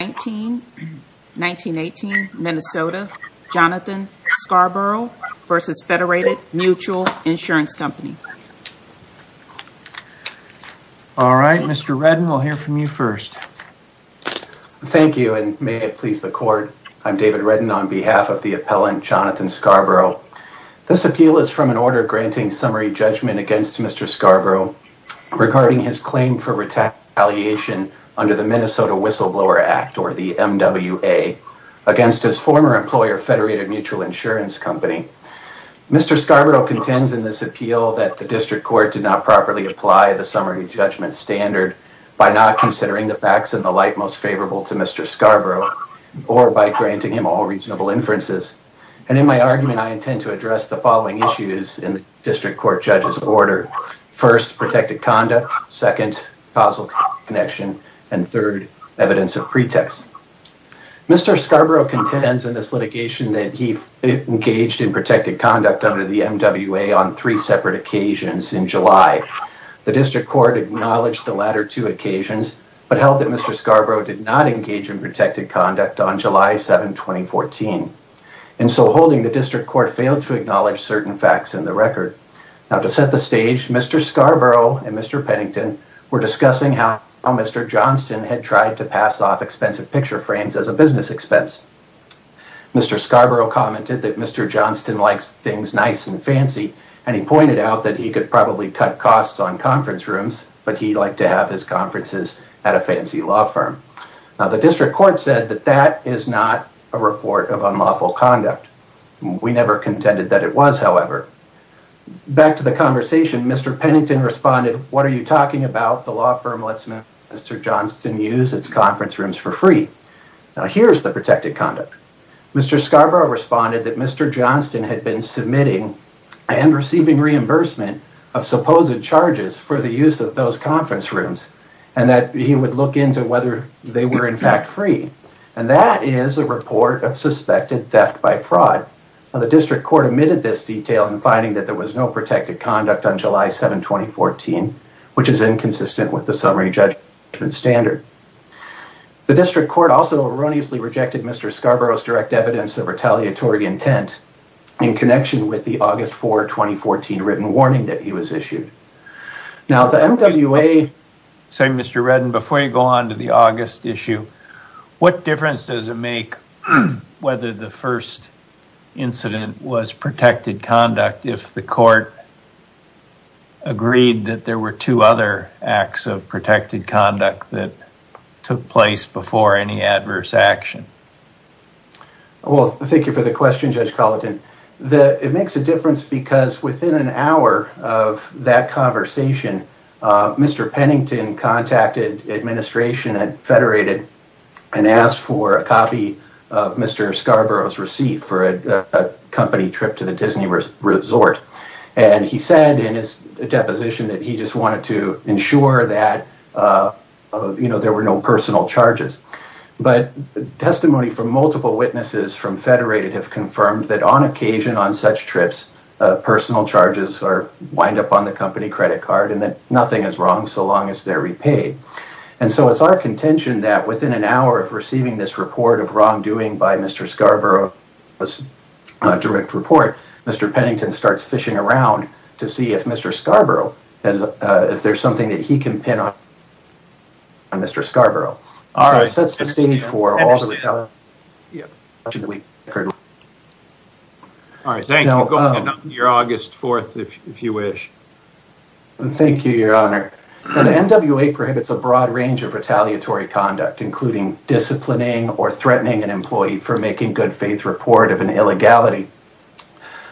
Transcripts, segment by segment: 1918 Minnesota Jonathan Scarborough versus Federated Mutual Insurance Company. All right Mr. Redden we'll hear from you first. Thank you and may it please the court. I'm David Redden on behalf of the appellant Jonathan Scarborough. This appeal is from an order granting summary judgment against Mr. Scarborough regarding his claim for retaliation under the Minnesota Whistleblower Act or the MWA against his former employer Federated Mutual Insurance Company. Mr. Scarborough contends in this appeal that the district court did not properly apply the summary judgment standard by not considering the facts in the light most favorable to Mr. Scarborough or by granting him all reasonable inferences and in my argument I intend to address the following issues in the district court judge's order. First protected conduct, second causal connection, and third evidence of pretext. Mr. Scarborough contends in this litigation that he engaged in protected conduct under the MWA on three separate occasions in July. The district court acknowledged the latter two occasions but held that Mr. Scarborough did not engage in protected conduct on July 7, 2014 and so holding the district court failed to acknowledge certain facts in the record. Now to set the stage Mr. Scarborough and Mr. Pennington were discussing how Mr. Johnston had tried to pass off expensive picture frames as a business expense. Mr. Scarborough commented that Mr. Johnston likes things nice and fancy and he pointed out that he could probably cut costs on conference rooms but he liked to have his conferences at a fancy law firm. Now the district court said that that is not a report of unlawful conduct. We never contended that it was however. Back to the conversation Mr. Pennington responded what are you talking about the law firm lets Mr. Johnston use its conference rooms for free. Now here's the protected conduct. Mr. Scarborough responded that Mr. Johnston had been submitting and receiving reimbursement of supposed charges for the use of those conference rooms and that he would look into whether they were in fact free and that is a report of suspected theft by fraud. Now the district court admitted this detail in finding that there was no protected conduct on July 7, 2014 which is inconsistent with the summary judgment standard. The district court also erroneously rejected Mr. Scarborough's direct evidence of retaliatory intent in connection with the August 4, 2014 written warning that he was issued. Now the MWA say Mr. Redden before you go on to the August issue what difference does it make whether the first incident was protected conduct if the court agreed that there were two other acts of protected conduct that took place before any adverse action. Well thank you for the question Judge Colleton. It makes a difference because within an hour of that conversation Mr. Pennington contacted administration and federated and asked for a copy of Mr. Scarborough's receipt for a company trip to the Disney Resort and he said in his deposition that he just wanted to ensure that you know there were no personal charges but testimony from multiple witnesses from federated have confirmed that on occasion on such trips personal charges or wind up on the company credit card and that nothing is wrong so long as they're repaid. And so it's our contention that within an hour of receiving this report of wrongdoing by Mr. Scarborough was a direct report Mr. Pennington starts fishing around to see if Mr. Scarborough has if there's something that he can pin on Mr. Scarborough. All right. That's the stage for all the retaliation that we heard. All right. Thank you. You're August 4th if you wish. Thank you your honor. The NWA prohibits a broad range of retaliatory conduct including disciplining or threatening an employee for making good-faith report of an illegality.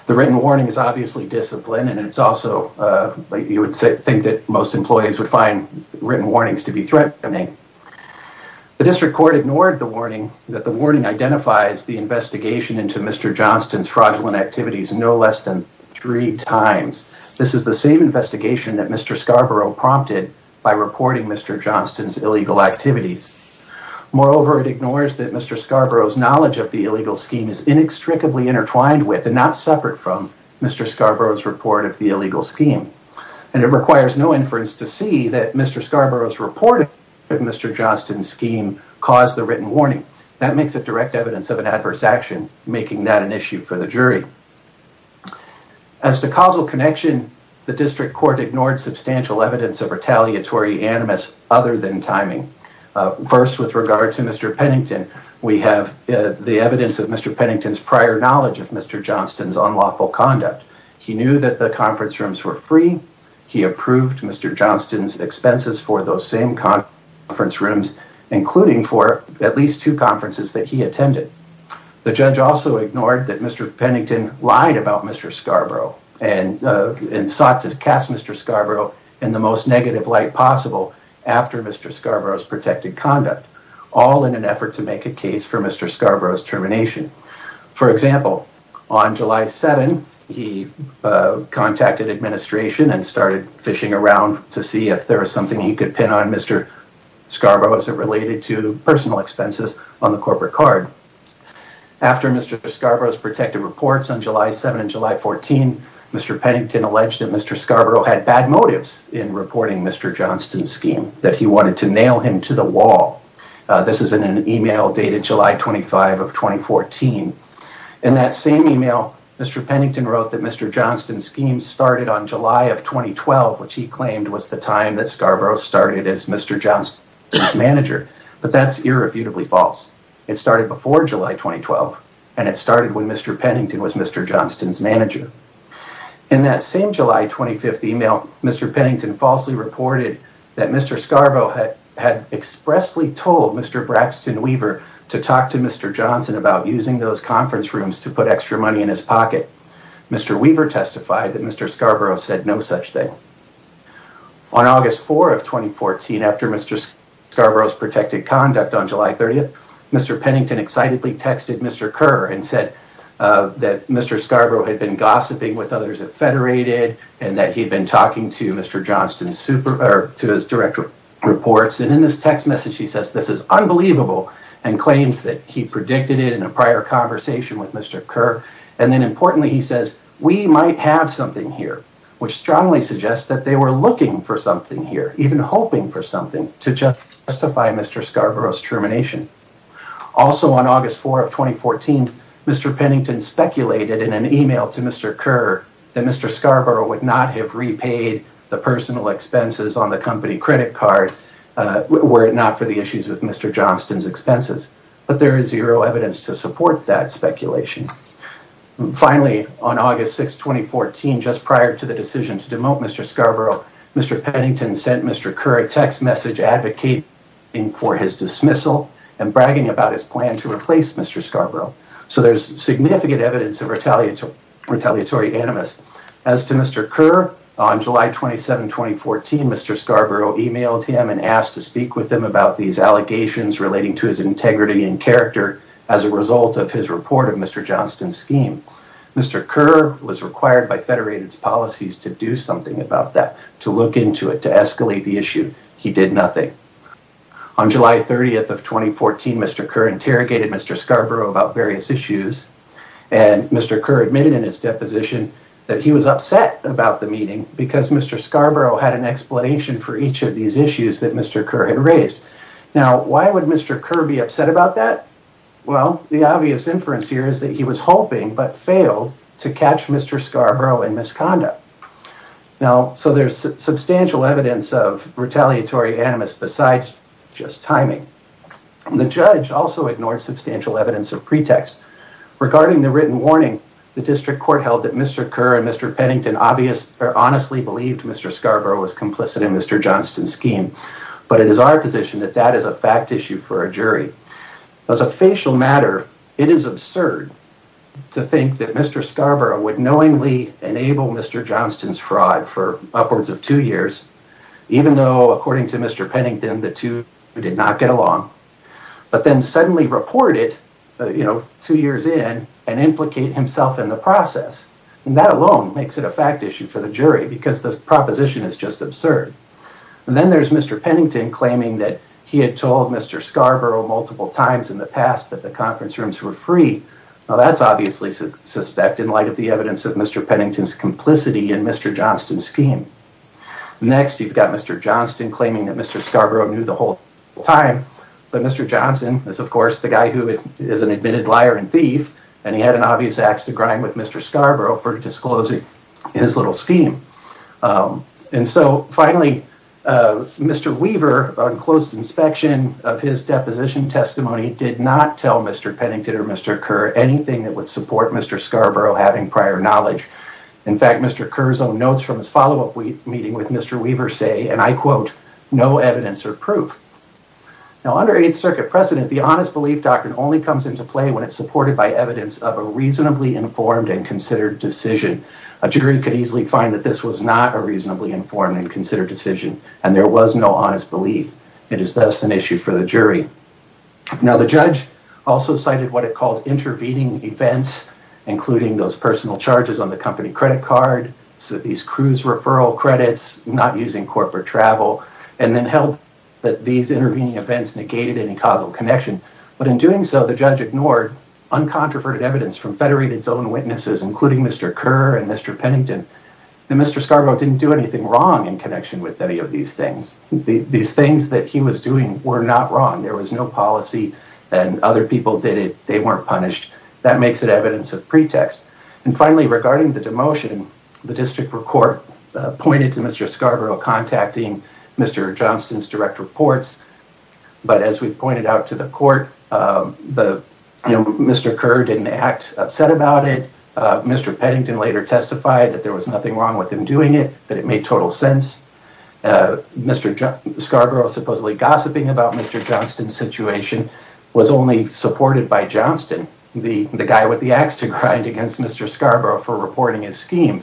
The written warning is obviously discipline and it's also you would say think that most employees would find written warnings to be threatening. The district court ignored the warning that the warning identifies the investigation into Mr. Johnston's fraudulent activities no less than three times. This is the same investigation that Mr. Scarborough prompted by reporting Mr. Johnston's illegal activities. Moreover it ignores that Mr. Scarborough's knowledge of the illegal scheme is inextricably intertwined with and not separate from Mr. Scarborough's report of the illegal scheme. And it requires no inference to see that Mr. Scarborough's report of Mr. Johnston's caused the written warning. That makes it direct evidence of an adverse action making that an issue for the jury. As the causal connection the district court ignored substantial evidence of retaliatory animus other than timing. First with regard to Mr. Pennington we have the evidence of Mr. Pennington's prior knowledge of Mr. Johnston's unlawful conduct. He knew that the conference rooms were free. He approved Mr. Johnston's expenses for those same conference rooms including for at least two conferences that he attended. The judge also ignored that Mr. Pennington lied about Mr. Scarborough and sought to cast Mr. Scarborough in the most negative light possible after Mr. Scarborough's protected conduct all in an effort to make a case for Mr. Scarborough's termination. For example on July 7 he contacted administration and started fishing around to see if there was something he could pin on Mr. Scarborough as it related to personal expenses on the corporate card. After Mr. Scarborough's protected reports on July 7 and July 14 Mr. Pennington alleged that Mr. Scarborough had bad motives in reporting Mr. Johnston's scheme that he wanted to nail him to the wall. This is in an email dated July 25 of 2014. In that same email Mr. Pennington wrote that Mr. Johnston's scheme started on July 7 when Mr. Pennington was Mr. Johnston's manager but that's irrefutably false. It started before July 2012 and it started when Mr. Pennington was Mr. Johnston's manager. In that same July 25th email Mr. Pennington falsely reported that Mr. Scarborough had expressly told Mr. Braxton Weaver to talk to Mr. Johnston about using those conference rooms to put extra money in his pocket. Mr. Weaver testified that Mr. Scarborough said no such thing. On August 4 of 2014 after Mr. Scarborough's protected conduct on July 30th Mr. Pennington excitedly texted Mr. Kerr and said that Mr. Scarborough had been gossiping with others at Federated and that he had been talking to Mr. Johnston's director of reports and in this text message he says this is unbelievable and claims that he predicted it in a prior conversation with Mr. Kerr and then importantly he says we might have something here which strongly suggests that they were looking for something here even hoping for something to justify Mr. Scarborough's termination. Also on August 4 of 2014 Mr. Pennington speculated in an email to Mr. Kerr that Mr. Scarborough would not have repaid the personal expenses on the company credit card were it not for the issues with Mr. Johnston's expenses but there just prior to the decision to demote Mr. Scarborough Mr. Pennington sent Mr. Kerr a text message advocating for his dismissal and bragging about his plan to replace Mr. Scarborough so there's significant evidence of retaliatory animus. As to Mr. Kerr on July 27 2014 Mr. Scarborough emailed him and asked to speak with him about these allegations relating to his integrity and character as a result of his report of Mr. Johnston's scheme. Mr. Kerr was required by Federated's policies to do something about that to look into it to escalate the issue. He did nothing. On July 30th of 2014 Mr. Kerr interrogated Mr. Scarborough about various issues and Mr. Kerr admitted in his deposition that he was upset about the meeting because Mr. Scarborough had an explanation for each of these issues that Mr. Kerr had raised. Now why would Mr. Kerr be upset about that? Well the obvious inference here is that he was hoping but failed to catch Mr. Scarborough in misconduct. Now so there's substantial evidence of retaliatory animus besides just timing. The judge also ignored substantial evidence of pretext. Regarding the written warning the district court held that Mr. Kerr and Mr. Pennington obvious or honestly believed Mr. Scarborough was complicit in Mr. Johnston's scheme but it is our position that that is a fact issue for a jury. As a facial matter it is absurd to think that Mr. Scarborough would knowingly enable Mr. Johnston's fraud for upwards of two years even though according to Mr. Pennington the two did not get along but then suddenly reported you know two years in and implicate himself in the process and that alone makes it a fact issue for the jury because this proposition is just absurd. And then there's Mr. Pennington claiming that he had told Mr. Scarborough multiple times in the past that the conference rooms were free. Now that's obviously suspect in light of the evidence of Mr. Pennington's complicity and Mr. Johnston's scheme. Next you've got Mr. Johnston claiming that Mr. Scarborough knew the whole time but Mr. Johnston is of course the guy who is an admitted liar and thief and he had an obvious axe to grind with Mr. Scarborough for disclosing his little scheme. And so finally Mr. Weaver on closed inspection of his deposition testimony did not tell Mr. Pennington or Mr. Kerr anything that would support Mr. Scarborough having prior knowledge. In fact Mr. Kerr's own notes from his follow-up meeting with Mr. Weaver say and I quote no evidence or proof. Now under Eighth Circuit precedent the honest belief doctrine only comes into play when it's supported by evidence of a reasonably informed and considered decision. A jury could easily find that this was not a reasonably informed and considered decision and there was no honest belief. It is thus an issue for the jury. Now the judge also cited what it called intervening events including those personal charges on the company credit card so these cruise referral credits not using corporate travel and then held that these intervening events negated any causal connection but in doing so the judge ignored uncontroverted evidence from federated zone witnesses including Mr. Kerr and Mr. Pennington. Mr. Scarborough didn't do anything wrong in connection with any of these things. These things that he was doing were not wrong. There was no policy and other people did it. They weren't punished. That makes it evidence of pretext and finally regarding the demotion the district report pointed to Mr. Scarborough contacting Mr. Johnston's direct reports but as we've pointed out to the court the you know Mr. Kerr didn't act upset about it. Mr. Pennington later testified that there was nothing wrong with him doing it that it made total sense. Mr. Scarborough supposedly gossiping about Mr. Johnston's situation was only supported by Johnston the the guy with the axe to grind against Mr. Scarborough for reporting his scheme.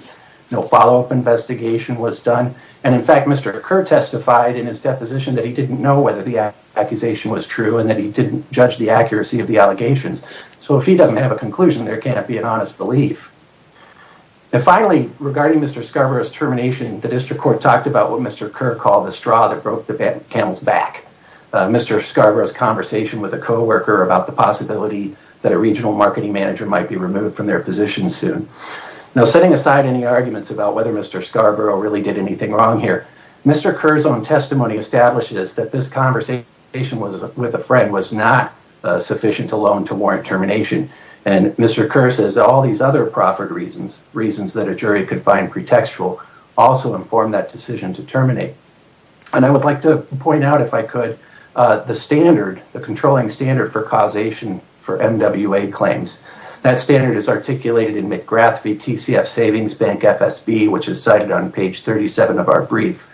No follow-up investigation was done and in fact Mr. Kerr testified in his deposition that he didn't know whether the accusation was true and that he didn't judge the accuracy of the allegations so if he doesn't have a conclusion there can't be an honest belief. And finally regarding Mr. Scarborough's termination the district court talked about what Mr. Kerr called the straw that broke the back. Mr. Scarborough's conversation with a co-worker about the possibility that a regional marketing manager might be removed from their position soon. Now setting aside any arguments about whether Mr. Scarborough really did anything wrong here Mr. Kerr's own testimony establishes that this conversation was with a friend was not sufficient alone to warrant termination and Mr. Kerr says all these other proffered reasons reasons that a jury could find pretextual also informed that decision to terminate and I would like to point out if I could the standard the controlling standard for causation for MWA claims. That standard is articulated in McGrath v TCF Savings Bank FSB which is cited on page 37 of our brief.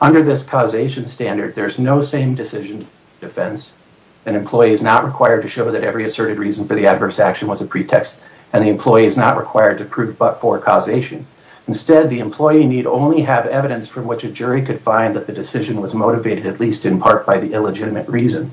Under this causation standard there's no same decision defense an employee is not required to show that every asserted reason for the adverse action was a pretext and the employee is not required to prove but for causation. Instead the employee need only have evidence from which a jury could find that the decision was motivated at least in part by the illegitimate reason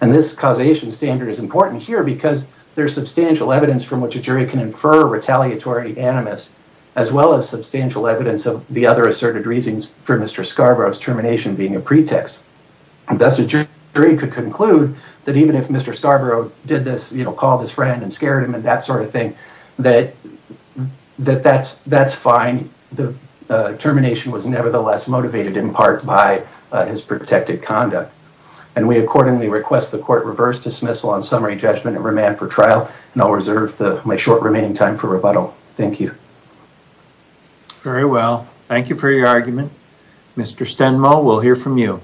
and this causation standard is important here because there's substantial evidence from which a jury can infer retaliatory animus as well as substantial evidence of the other asserted reasons for Mr. Scarborough's termination being a pretext and that's a jury could conclude that even if Mr. Scarborough did this you know called his friend and scared him and that sort of thing that that that's that's fine the termination was nevertheless motivated in part by his protected conduct and we accordingly request the court reverse dismissal on summary judgment and remand for trial and I'll reserve the my short remaining time for rebuttal. Thank you. Very well. Thank you for your argument. Mr. Stenmo we'll hear from you.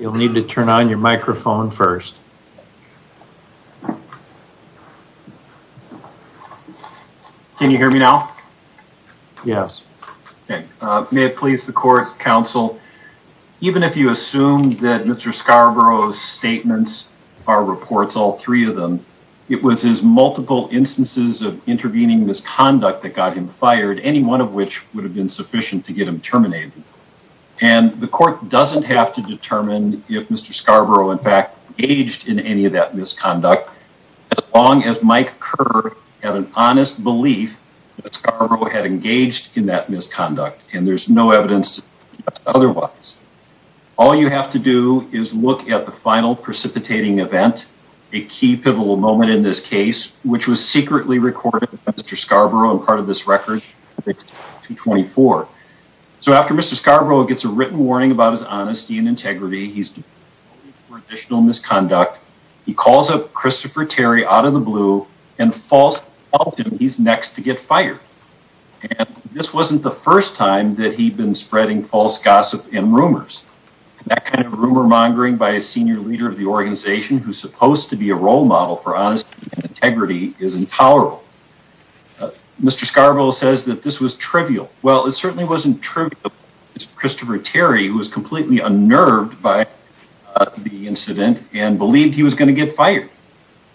You'll hear me now? Yes. May it please the court counsel even if you assume that Mr. Scarborough's statements are reports all three of them it was his multiple instances of intervening misconduct that got him fired any one of which would have been sufficient to get him terminated and the court doesn't have to determine if Mr. Scarborough in fact aged in any of that misconduct as long as Mike Kerr had an honest belief that Scarborough had engaged in that misconduct and there's no evidence otherwise all you have to do is look at the final precipitating event a key pivotal moment in this case which was secretly recorded by Mr. Scarborough and part of this record 224 so after Mr. Scarborough gets a written warning about his honesty and integrity he's for Christopher Terry out of the blue and false he's next to get fired and this wasn't the first time that he'd been spreading false gossip and rumors that kind of rumor mongering by a senior leader of the organization who's supposed to be a role model for honest integrity is intolerable mr. Scarborough says that this was trivial well it certainly wasn't true Christopher Terry who was completely unnerved by the incident and believed he was going to get fired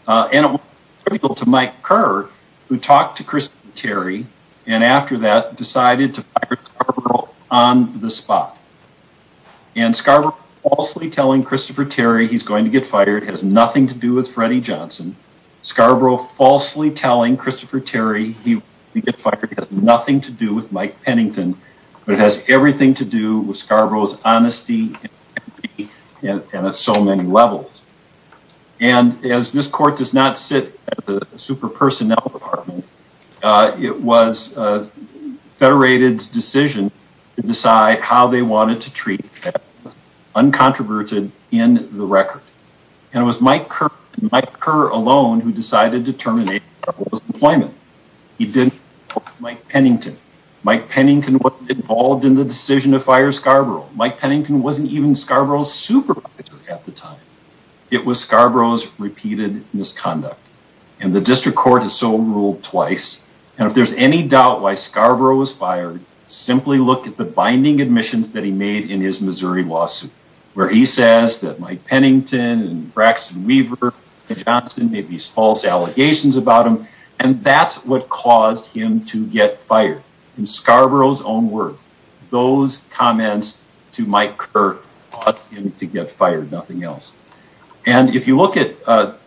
and it was trivial to Mike Kerr who talked to Christopher Terry and after that decided to fire Scarborough on the spot and Scarborough falsely telling Christopher Terry he's going to get fired has nothing to do with Freddie Johnson Scarborough falsely telling Christopher Terry he would get fired has nothing to do with Mike Pennington but it has everything to do with Scarborough's honesty and so many levels and as this court does not sit the super personnel department it was Federated's decision to decide how they wanted to treat uncontroverted in the record and it was Mike Kerr Mike Kerr alone who decided to terminate employment he did Mike Pennington Mike Pennington wasn't even Scarborough's supervisor at the time it was Scarborough's repeated misconduct and the district court is so ruled twice and if there's any doubt why Scarborough was fired simply look at the binding admissions that he made in his Missouri lawsuit where he says that Mike Pennington and Braxton Weaver Johnson made these false allegations about him and that's what to Mike Kerr to get fired nothing else and if you look at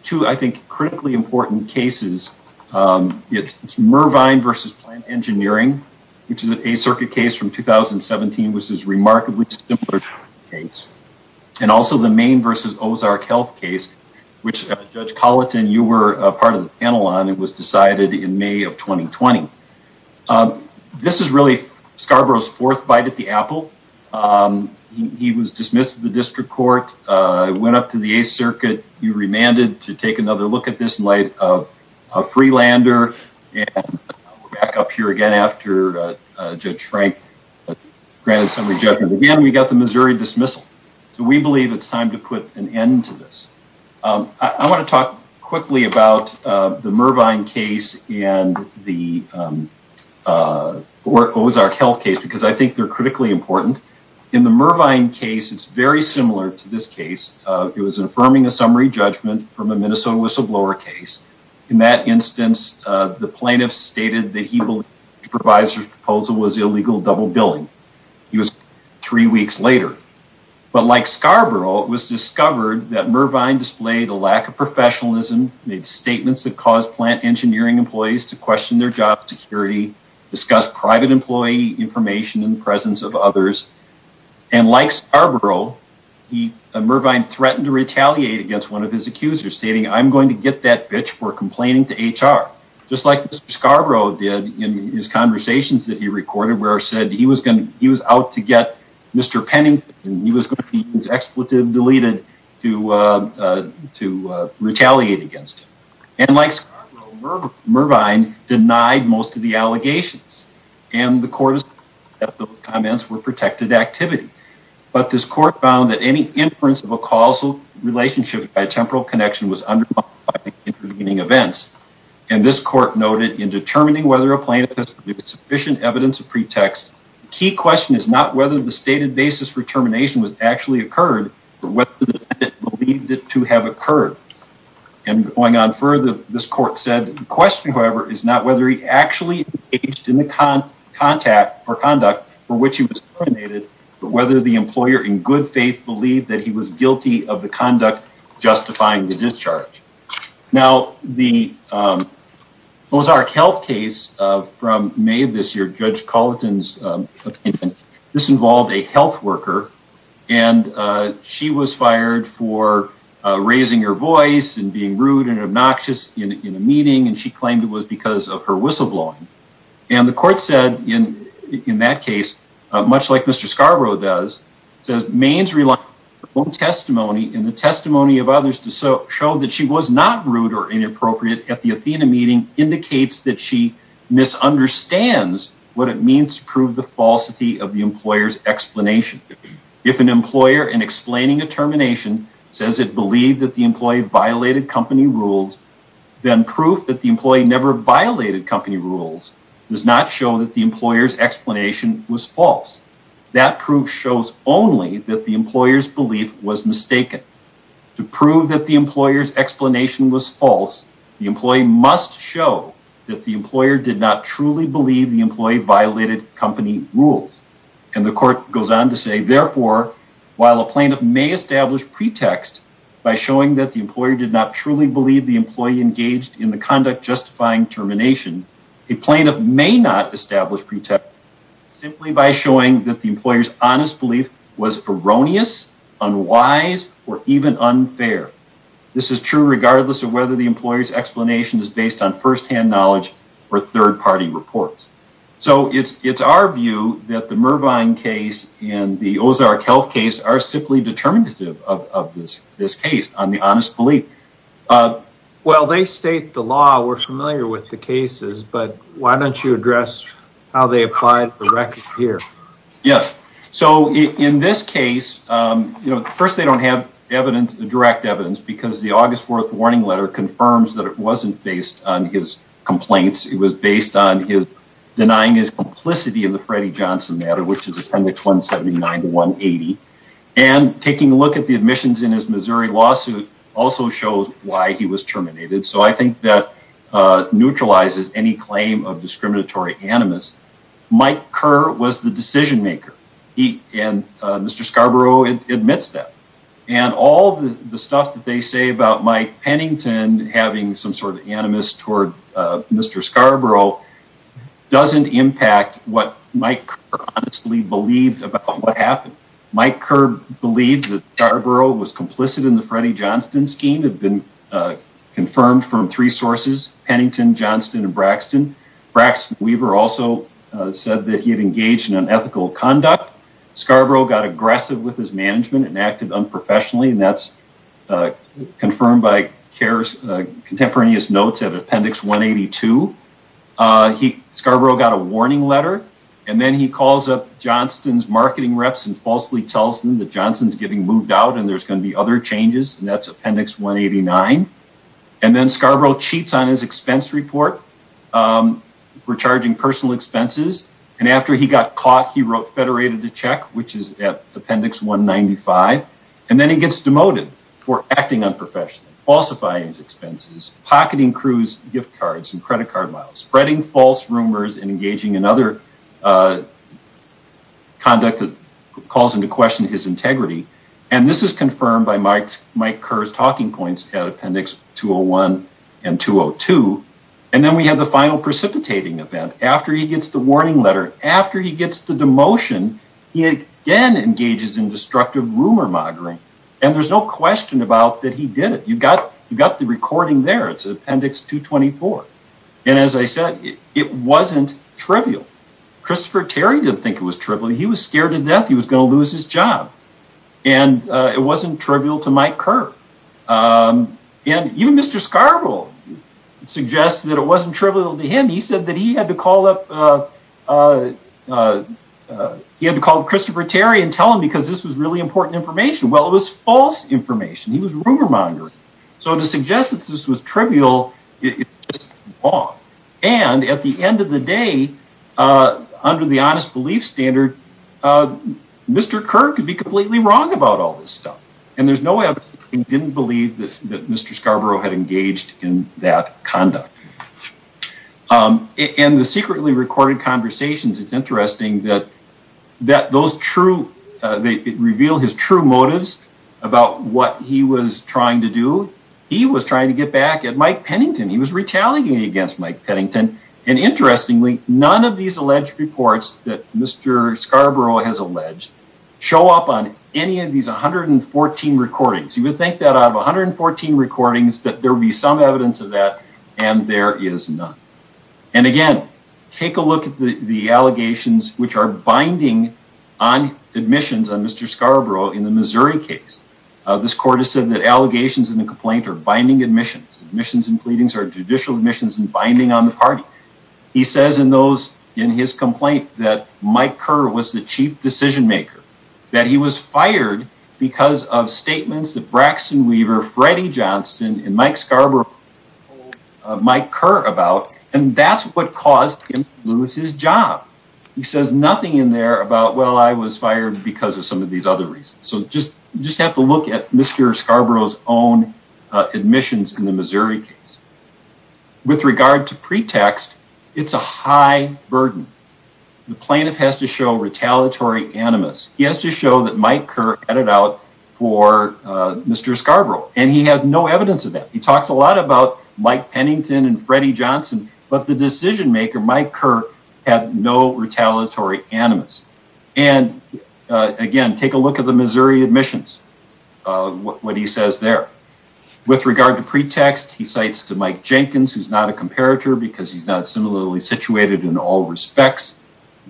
two I think critically important cases it's it's Mervine versus plant engineering which is an a circuit case from 2017 which is remarkably simpler case and also the main versus Ozark health case which judge Collett and you were a part of the panel on it was decided in May of 2020 this is really Scarborough's fourth bite at the apple he was dismissed the district court went up to the a circuit you remanded to take another look at this in light of a Freelander and back up here again after Judge Frank granted some rejection again we got the Missouri dismissal so we believe it's time to put an end to this I want to talk quickly about the Mervine case and the Ozark health case because I think they're critically important in the Mervine case it's very similar to this case it was affirming a summary judgment from a Minnesota whistleblower case in that instance the plaintiffs stated that he will provide proposal was illegal double-billing he was three weeks later but like Scarborough it was discovered that Mervine displayed a lack of professionalism made statements that cause plant engineering employees to question their job security discuss private employee information in the presence of others and like Scarborough he Mervine threatened to retaliate against one of his accusers stating I'm going to get that bitch for complaining to HR just like Scarborough did in his conversations that he recorded where I said he was gonna he was out to get mr. Pennington he was going to be expletive deleted to to retaliate against and like Mervine denied most of the allegations and the court is comments were protected activity but this court found that any inference of a causal relationship by temporal connection was under meaning events and this court noted in determining whether a plaintiff has sufficient evidence of pretext key question is not whether the stated basis for termination was actually occurred to have occurred and going on further this court said the question however is not whether he actually aged in the con contact or conduct for which he was terminated but whether the employer in good faith believed that he was guilty of the conduct justifying the discharge now the Ozark health case from May this year judge Colton's this involved a health worker and she was fired for raising her voice and being rude and obnoxious in a meeting and she claimed it was because of her whistle-blowing and the court said in in that case much like mr. Scarborough does says mains rely on testimony in the testimony of others to so show that she was not rude or inappropriate at the means prove the falsity of the employers explanation if an employer in explaining a termination says it believed that the employee violated company rules then proof that the employee never violated company rules does not show that the employer's explanation was false that proof shows only that the employers belief was mistaken to prove that the employers explanation was false the employee violated company rules and the court goes on to say therefore while a plaintiff may establish pretext by showing that the employer did not truly believe the employee engaged in the conduct justifying termination a plaintiff may not establish pretext simply by showing that the employers honest belief was erroneous unwise or even unfair this is true regardless of whether the employers explanation is based on first-hand knowledge or third-party reports so it's it's our view that the Mervine case and the Ozark health case are simply determinative of this this case on the honest belief of well they state the law we're familiar with the cases but why don't you address how they applied the record here yes so in this case you know first they don't have evidence the direct evidence because the August 4th warning letter confirms that it wasn't based on his complaints it was based on his denying his complicity in the Freddie Johnson matter which is appendix 179 to 180 and taking a look at the admissions in his Missouri lawsuit also shows why he was terminated so I think that neutralizes any claim of discriminatory animus Mike Kerr was the decision maker he and mr. Scarborough admits that and all the stuff that they about Mike Pennington having some sort of animus toward mr. Scarborough doesn't impact what Mike honestly believed about what happened Mike Kerr believed that Scarborough was complicit in the Freddie Johnston scheme had been confirmed from three sources Pennington Johnston and Braxton Braxton Weaver also said that he had engaged in unethical conduct Scarborough got aggressive with his confirmed by cares contemporaneous notes at appendix 182 he Scarborough got a warning letter and then he calls up Johnston's marketing reps and falsely tells them that Johnson's getting moved out and there's going to be other changes and that's appendix 189 and then Scarborough cheats on his expense report for charging personal expenses and after he got caught he wrote federated to check which is at appendix 195 and then he gets demoted for acting unprofessional falsifying his expenses pocketing cruise gift cards and credit card miles spreading false rumors and engaging in other conduct that calls into question his integrity and this is confirmed by Mike's Mike Kerr's talking points at appendix 201 and 202 and then we have the final precipitating event after he gets the demotion he again engages in destructive rumor mongering and there's no question about that he did it you got you got the recording there it's an appendix 224 and as I said it wasn't trivial Christopher Terry didn't think it was trivial he was scared to death he was gonna lose his job and it wasn't trivial to Mike Kerr and even mr. Scarborough suggests that it wasn't trivial to him he said that he had to call up he had to call Christopher Terry and tell him because this was really important information well it was false information he was rumor mongering so to suggest that this was trivial it's off and at the end of the day under the honest belief standard mr. Kirk would be completely wrong about all this stuff and there's no way I didn't believe that mr. Scarborough had engaged in that conduct and the secretly recorded conversations it's interesting that that those true they reveal his true motives about what he was trying to do he was trying to get back at Mike Pennington he was retaliating against Mike Pennington and interestingly none of these alleged reports that mr. Scarborough has alleged show up on any of these 114 recordings you would think that out of 114 recordings that there would be some evidence of that and there is none and again take a look at the the allegations which are binding on admissions on mr. Scarborough in the Missouri case this court has said that allegations in the complaint are binding admissions admissions and pleadings are judicial admissions and binding on the party he says in those in his complaint that Mike Kerr was the chief decision-maker that he was fired because of statements that Braxton Weaver Freddie Johnston and Mike Scarborough Mike Kerr about and that's what caused him to lose his job he says nothing in there about well I was fired because of some of these other reasons so just just have to look at mr. Scarborough's own admissions in the Missouri case with regard to pretext it's a high burden the plaintiff has to show retaliatory animus he has to show that Mike Kerr headed out for mr. Scarborough and he has no evidence of that he talks a lot about Mike Pennington and Freddie Johnson but the decision-maker Mike Kerr had no retaliatory animus and again take a look at the Missouri admissions what he says there with regard to pretext he cites to Mike Jenkins who's not a comparator because he's not similarly situated in all respects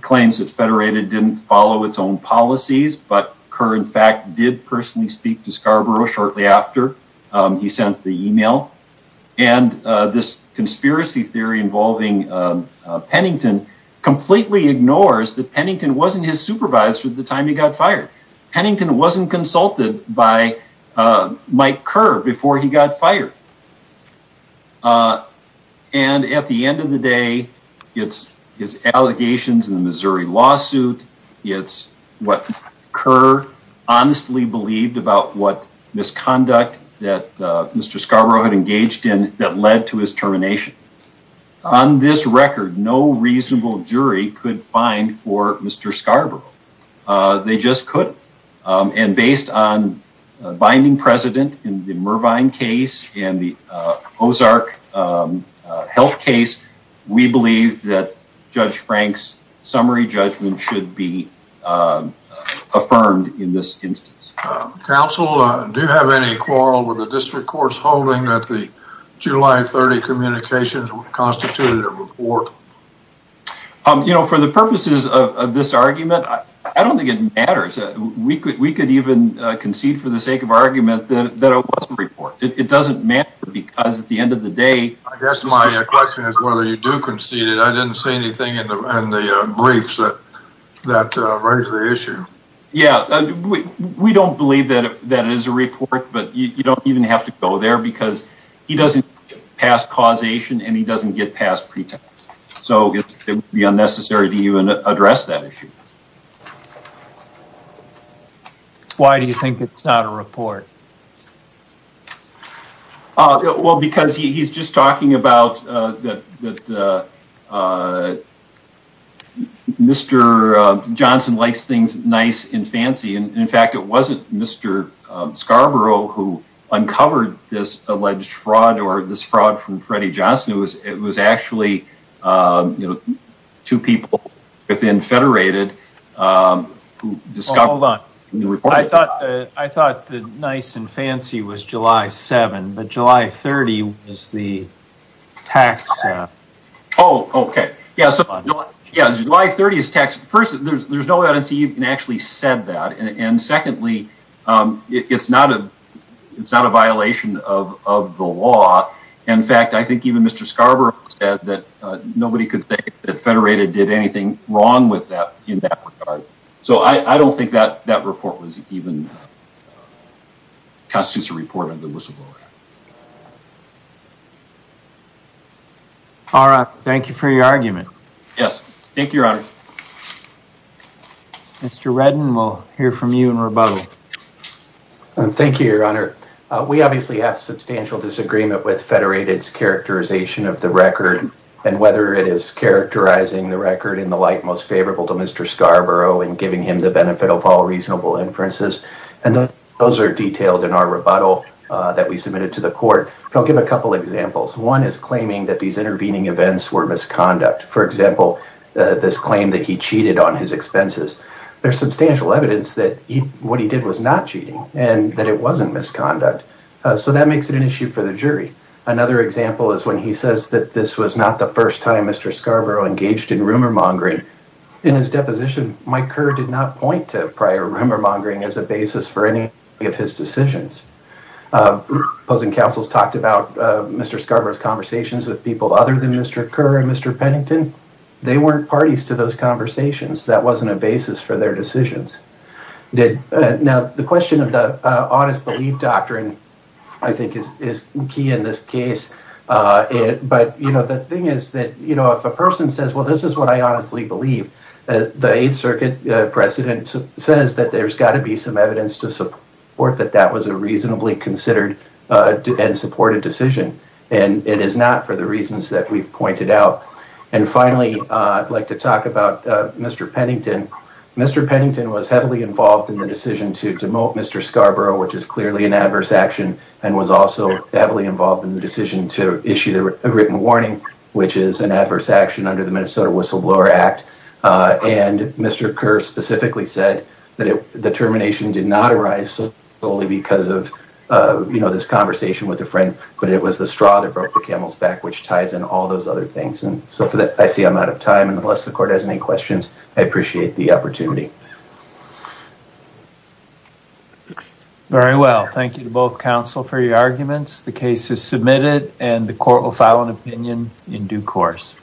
claims that Federated didn't follow its own policies but Kerr in fact did personally speak to Scarborough shortly after he sent the email and this conspiracy theory involving Pennington completely ignores that Pennington wasn't his supervisor at the time he got fired Pennington wasn't consulted by Mike Kerr before he got fired and at the end of the day it's his allegations in the Missouri lawsuit it's what Kerr honestly believed about what misconduct that mr. Scarborough had engaged in that led to his termination on this record no reasonable jury could find for mr. Scarborough they just could and based on binding president in the Mervine case and the Ozark health case we believe that judge Frank's summary judgment should be affirmed in this instance counsel do you have any quarrel with the district courts holding that the July 30 communications constituted a report um you know for the purposes of this argument I don't think it matters we could we could even concede for the sake of argument that it wasn't report it doesn't matter because at the end of the day I guess my question is whether you do concede it I didn't say anything in the briefs that that raise the issue yeah we don't believe that that is a report but you don't even have to go there because he doesn't pass causation and he doesn't get past pretext so it's the unnecessary to you and address that why do you think it's not a report well because he's just talking about mr. Johnson likes things nice and fancy and in fact it wasn't mr. Scarborough who uncovered this alleged fraud or this fraud from Freddie Johnson it was actually you know two people within Federated hold on I thought I thought the nice and fancy was July 7 but July 30 is the tax oh okay yeah July 30 is taxed first there's no way I don't see you can actually said that and secondly it's not a it's not a violation of the law in fact I think even mr. Scarborough said that nobody could say that Federated did anything wrong with that in that regard so I I don't think that that report was even constitutes a report of the whistleblower all right thank you for your argument yes thank you your honor mr. Redden we'll hear from you in rebuttal and thank you your honor we obviously have substantial disagreement with Federated's characterization of the record and whether it is characterizing the record in the light most favorable to mr. Scarborough and giving him the benefit of all reasonable inferences and those are detailed in our rebuttal that we submitted to the court I'll give a couple examples one is claiming that these intervening events were misconduct for example this claim that he cheated on his expenses there's substantial evidence that what he did was not cheating and that it wasn't misconduct so that makes it an issue for the jury another example is when he says that this was not the first time mr. Scarborough engaged in rumor-mongering in his deposition Mike Kerr did not point to prior rumor-mongering as a basis for any of his decisions opposing counsels talked about mr. Scarborough's conversations with people other than mr. Kerr and mr. Pennington they weren't parties to those conversations that wasn't a basis for their decisions did now the question of the honest belief doctrine I think is key in this case but you know the thing is that you know if a person says well this is what I honestly believe the 8th Circuit precedent says that there's got to be some evidence to support that that was a reasonably considered and supported decision and it is not for the reasons that we've pointed out and finally I'd like to talk about mr. Pennington mr. Pennington was heavily involved in the decision to demote mr. Scarborough which is clearly an adverse action and was also heavily involved in the decision to issue a written warning which is an adverse action under the Minnesota whistleblower act and mr. Kerr specifically said that if the termination did not arise solely because of you know this conversation with a friend but it was the straw that broke the camel's back which ties in all those other things and so for that I see I'm out of time and unless the court has any I appreciate the opportunity very well thank you to both counsel for your arguments the case is submitted and the court will file an opinion in due course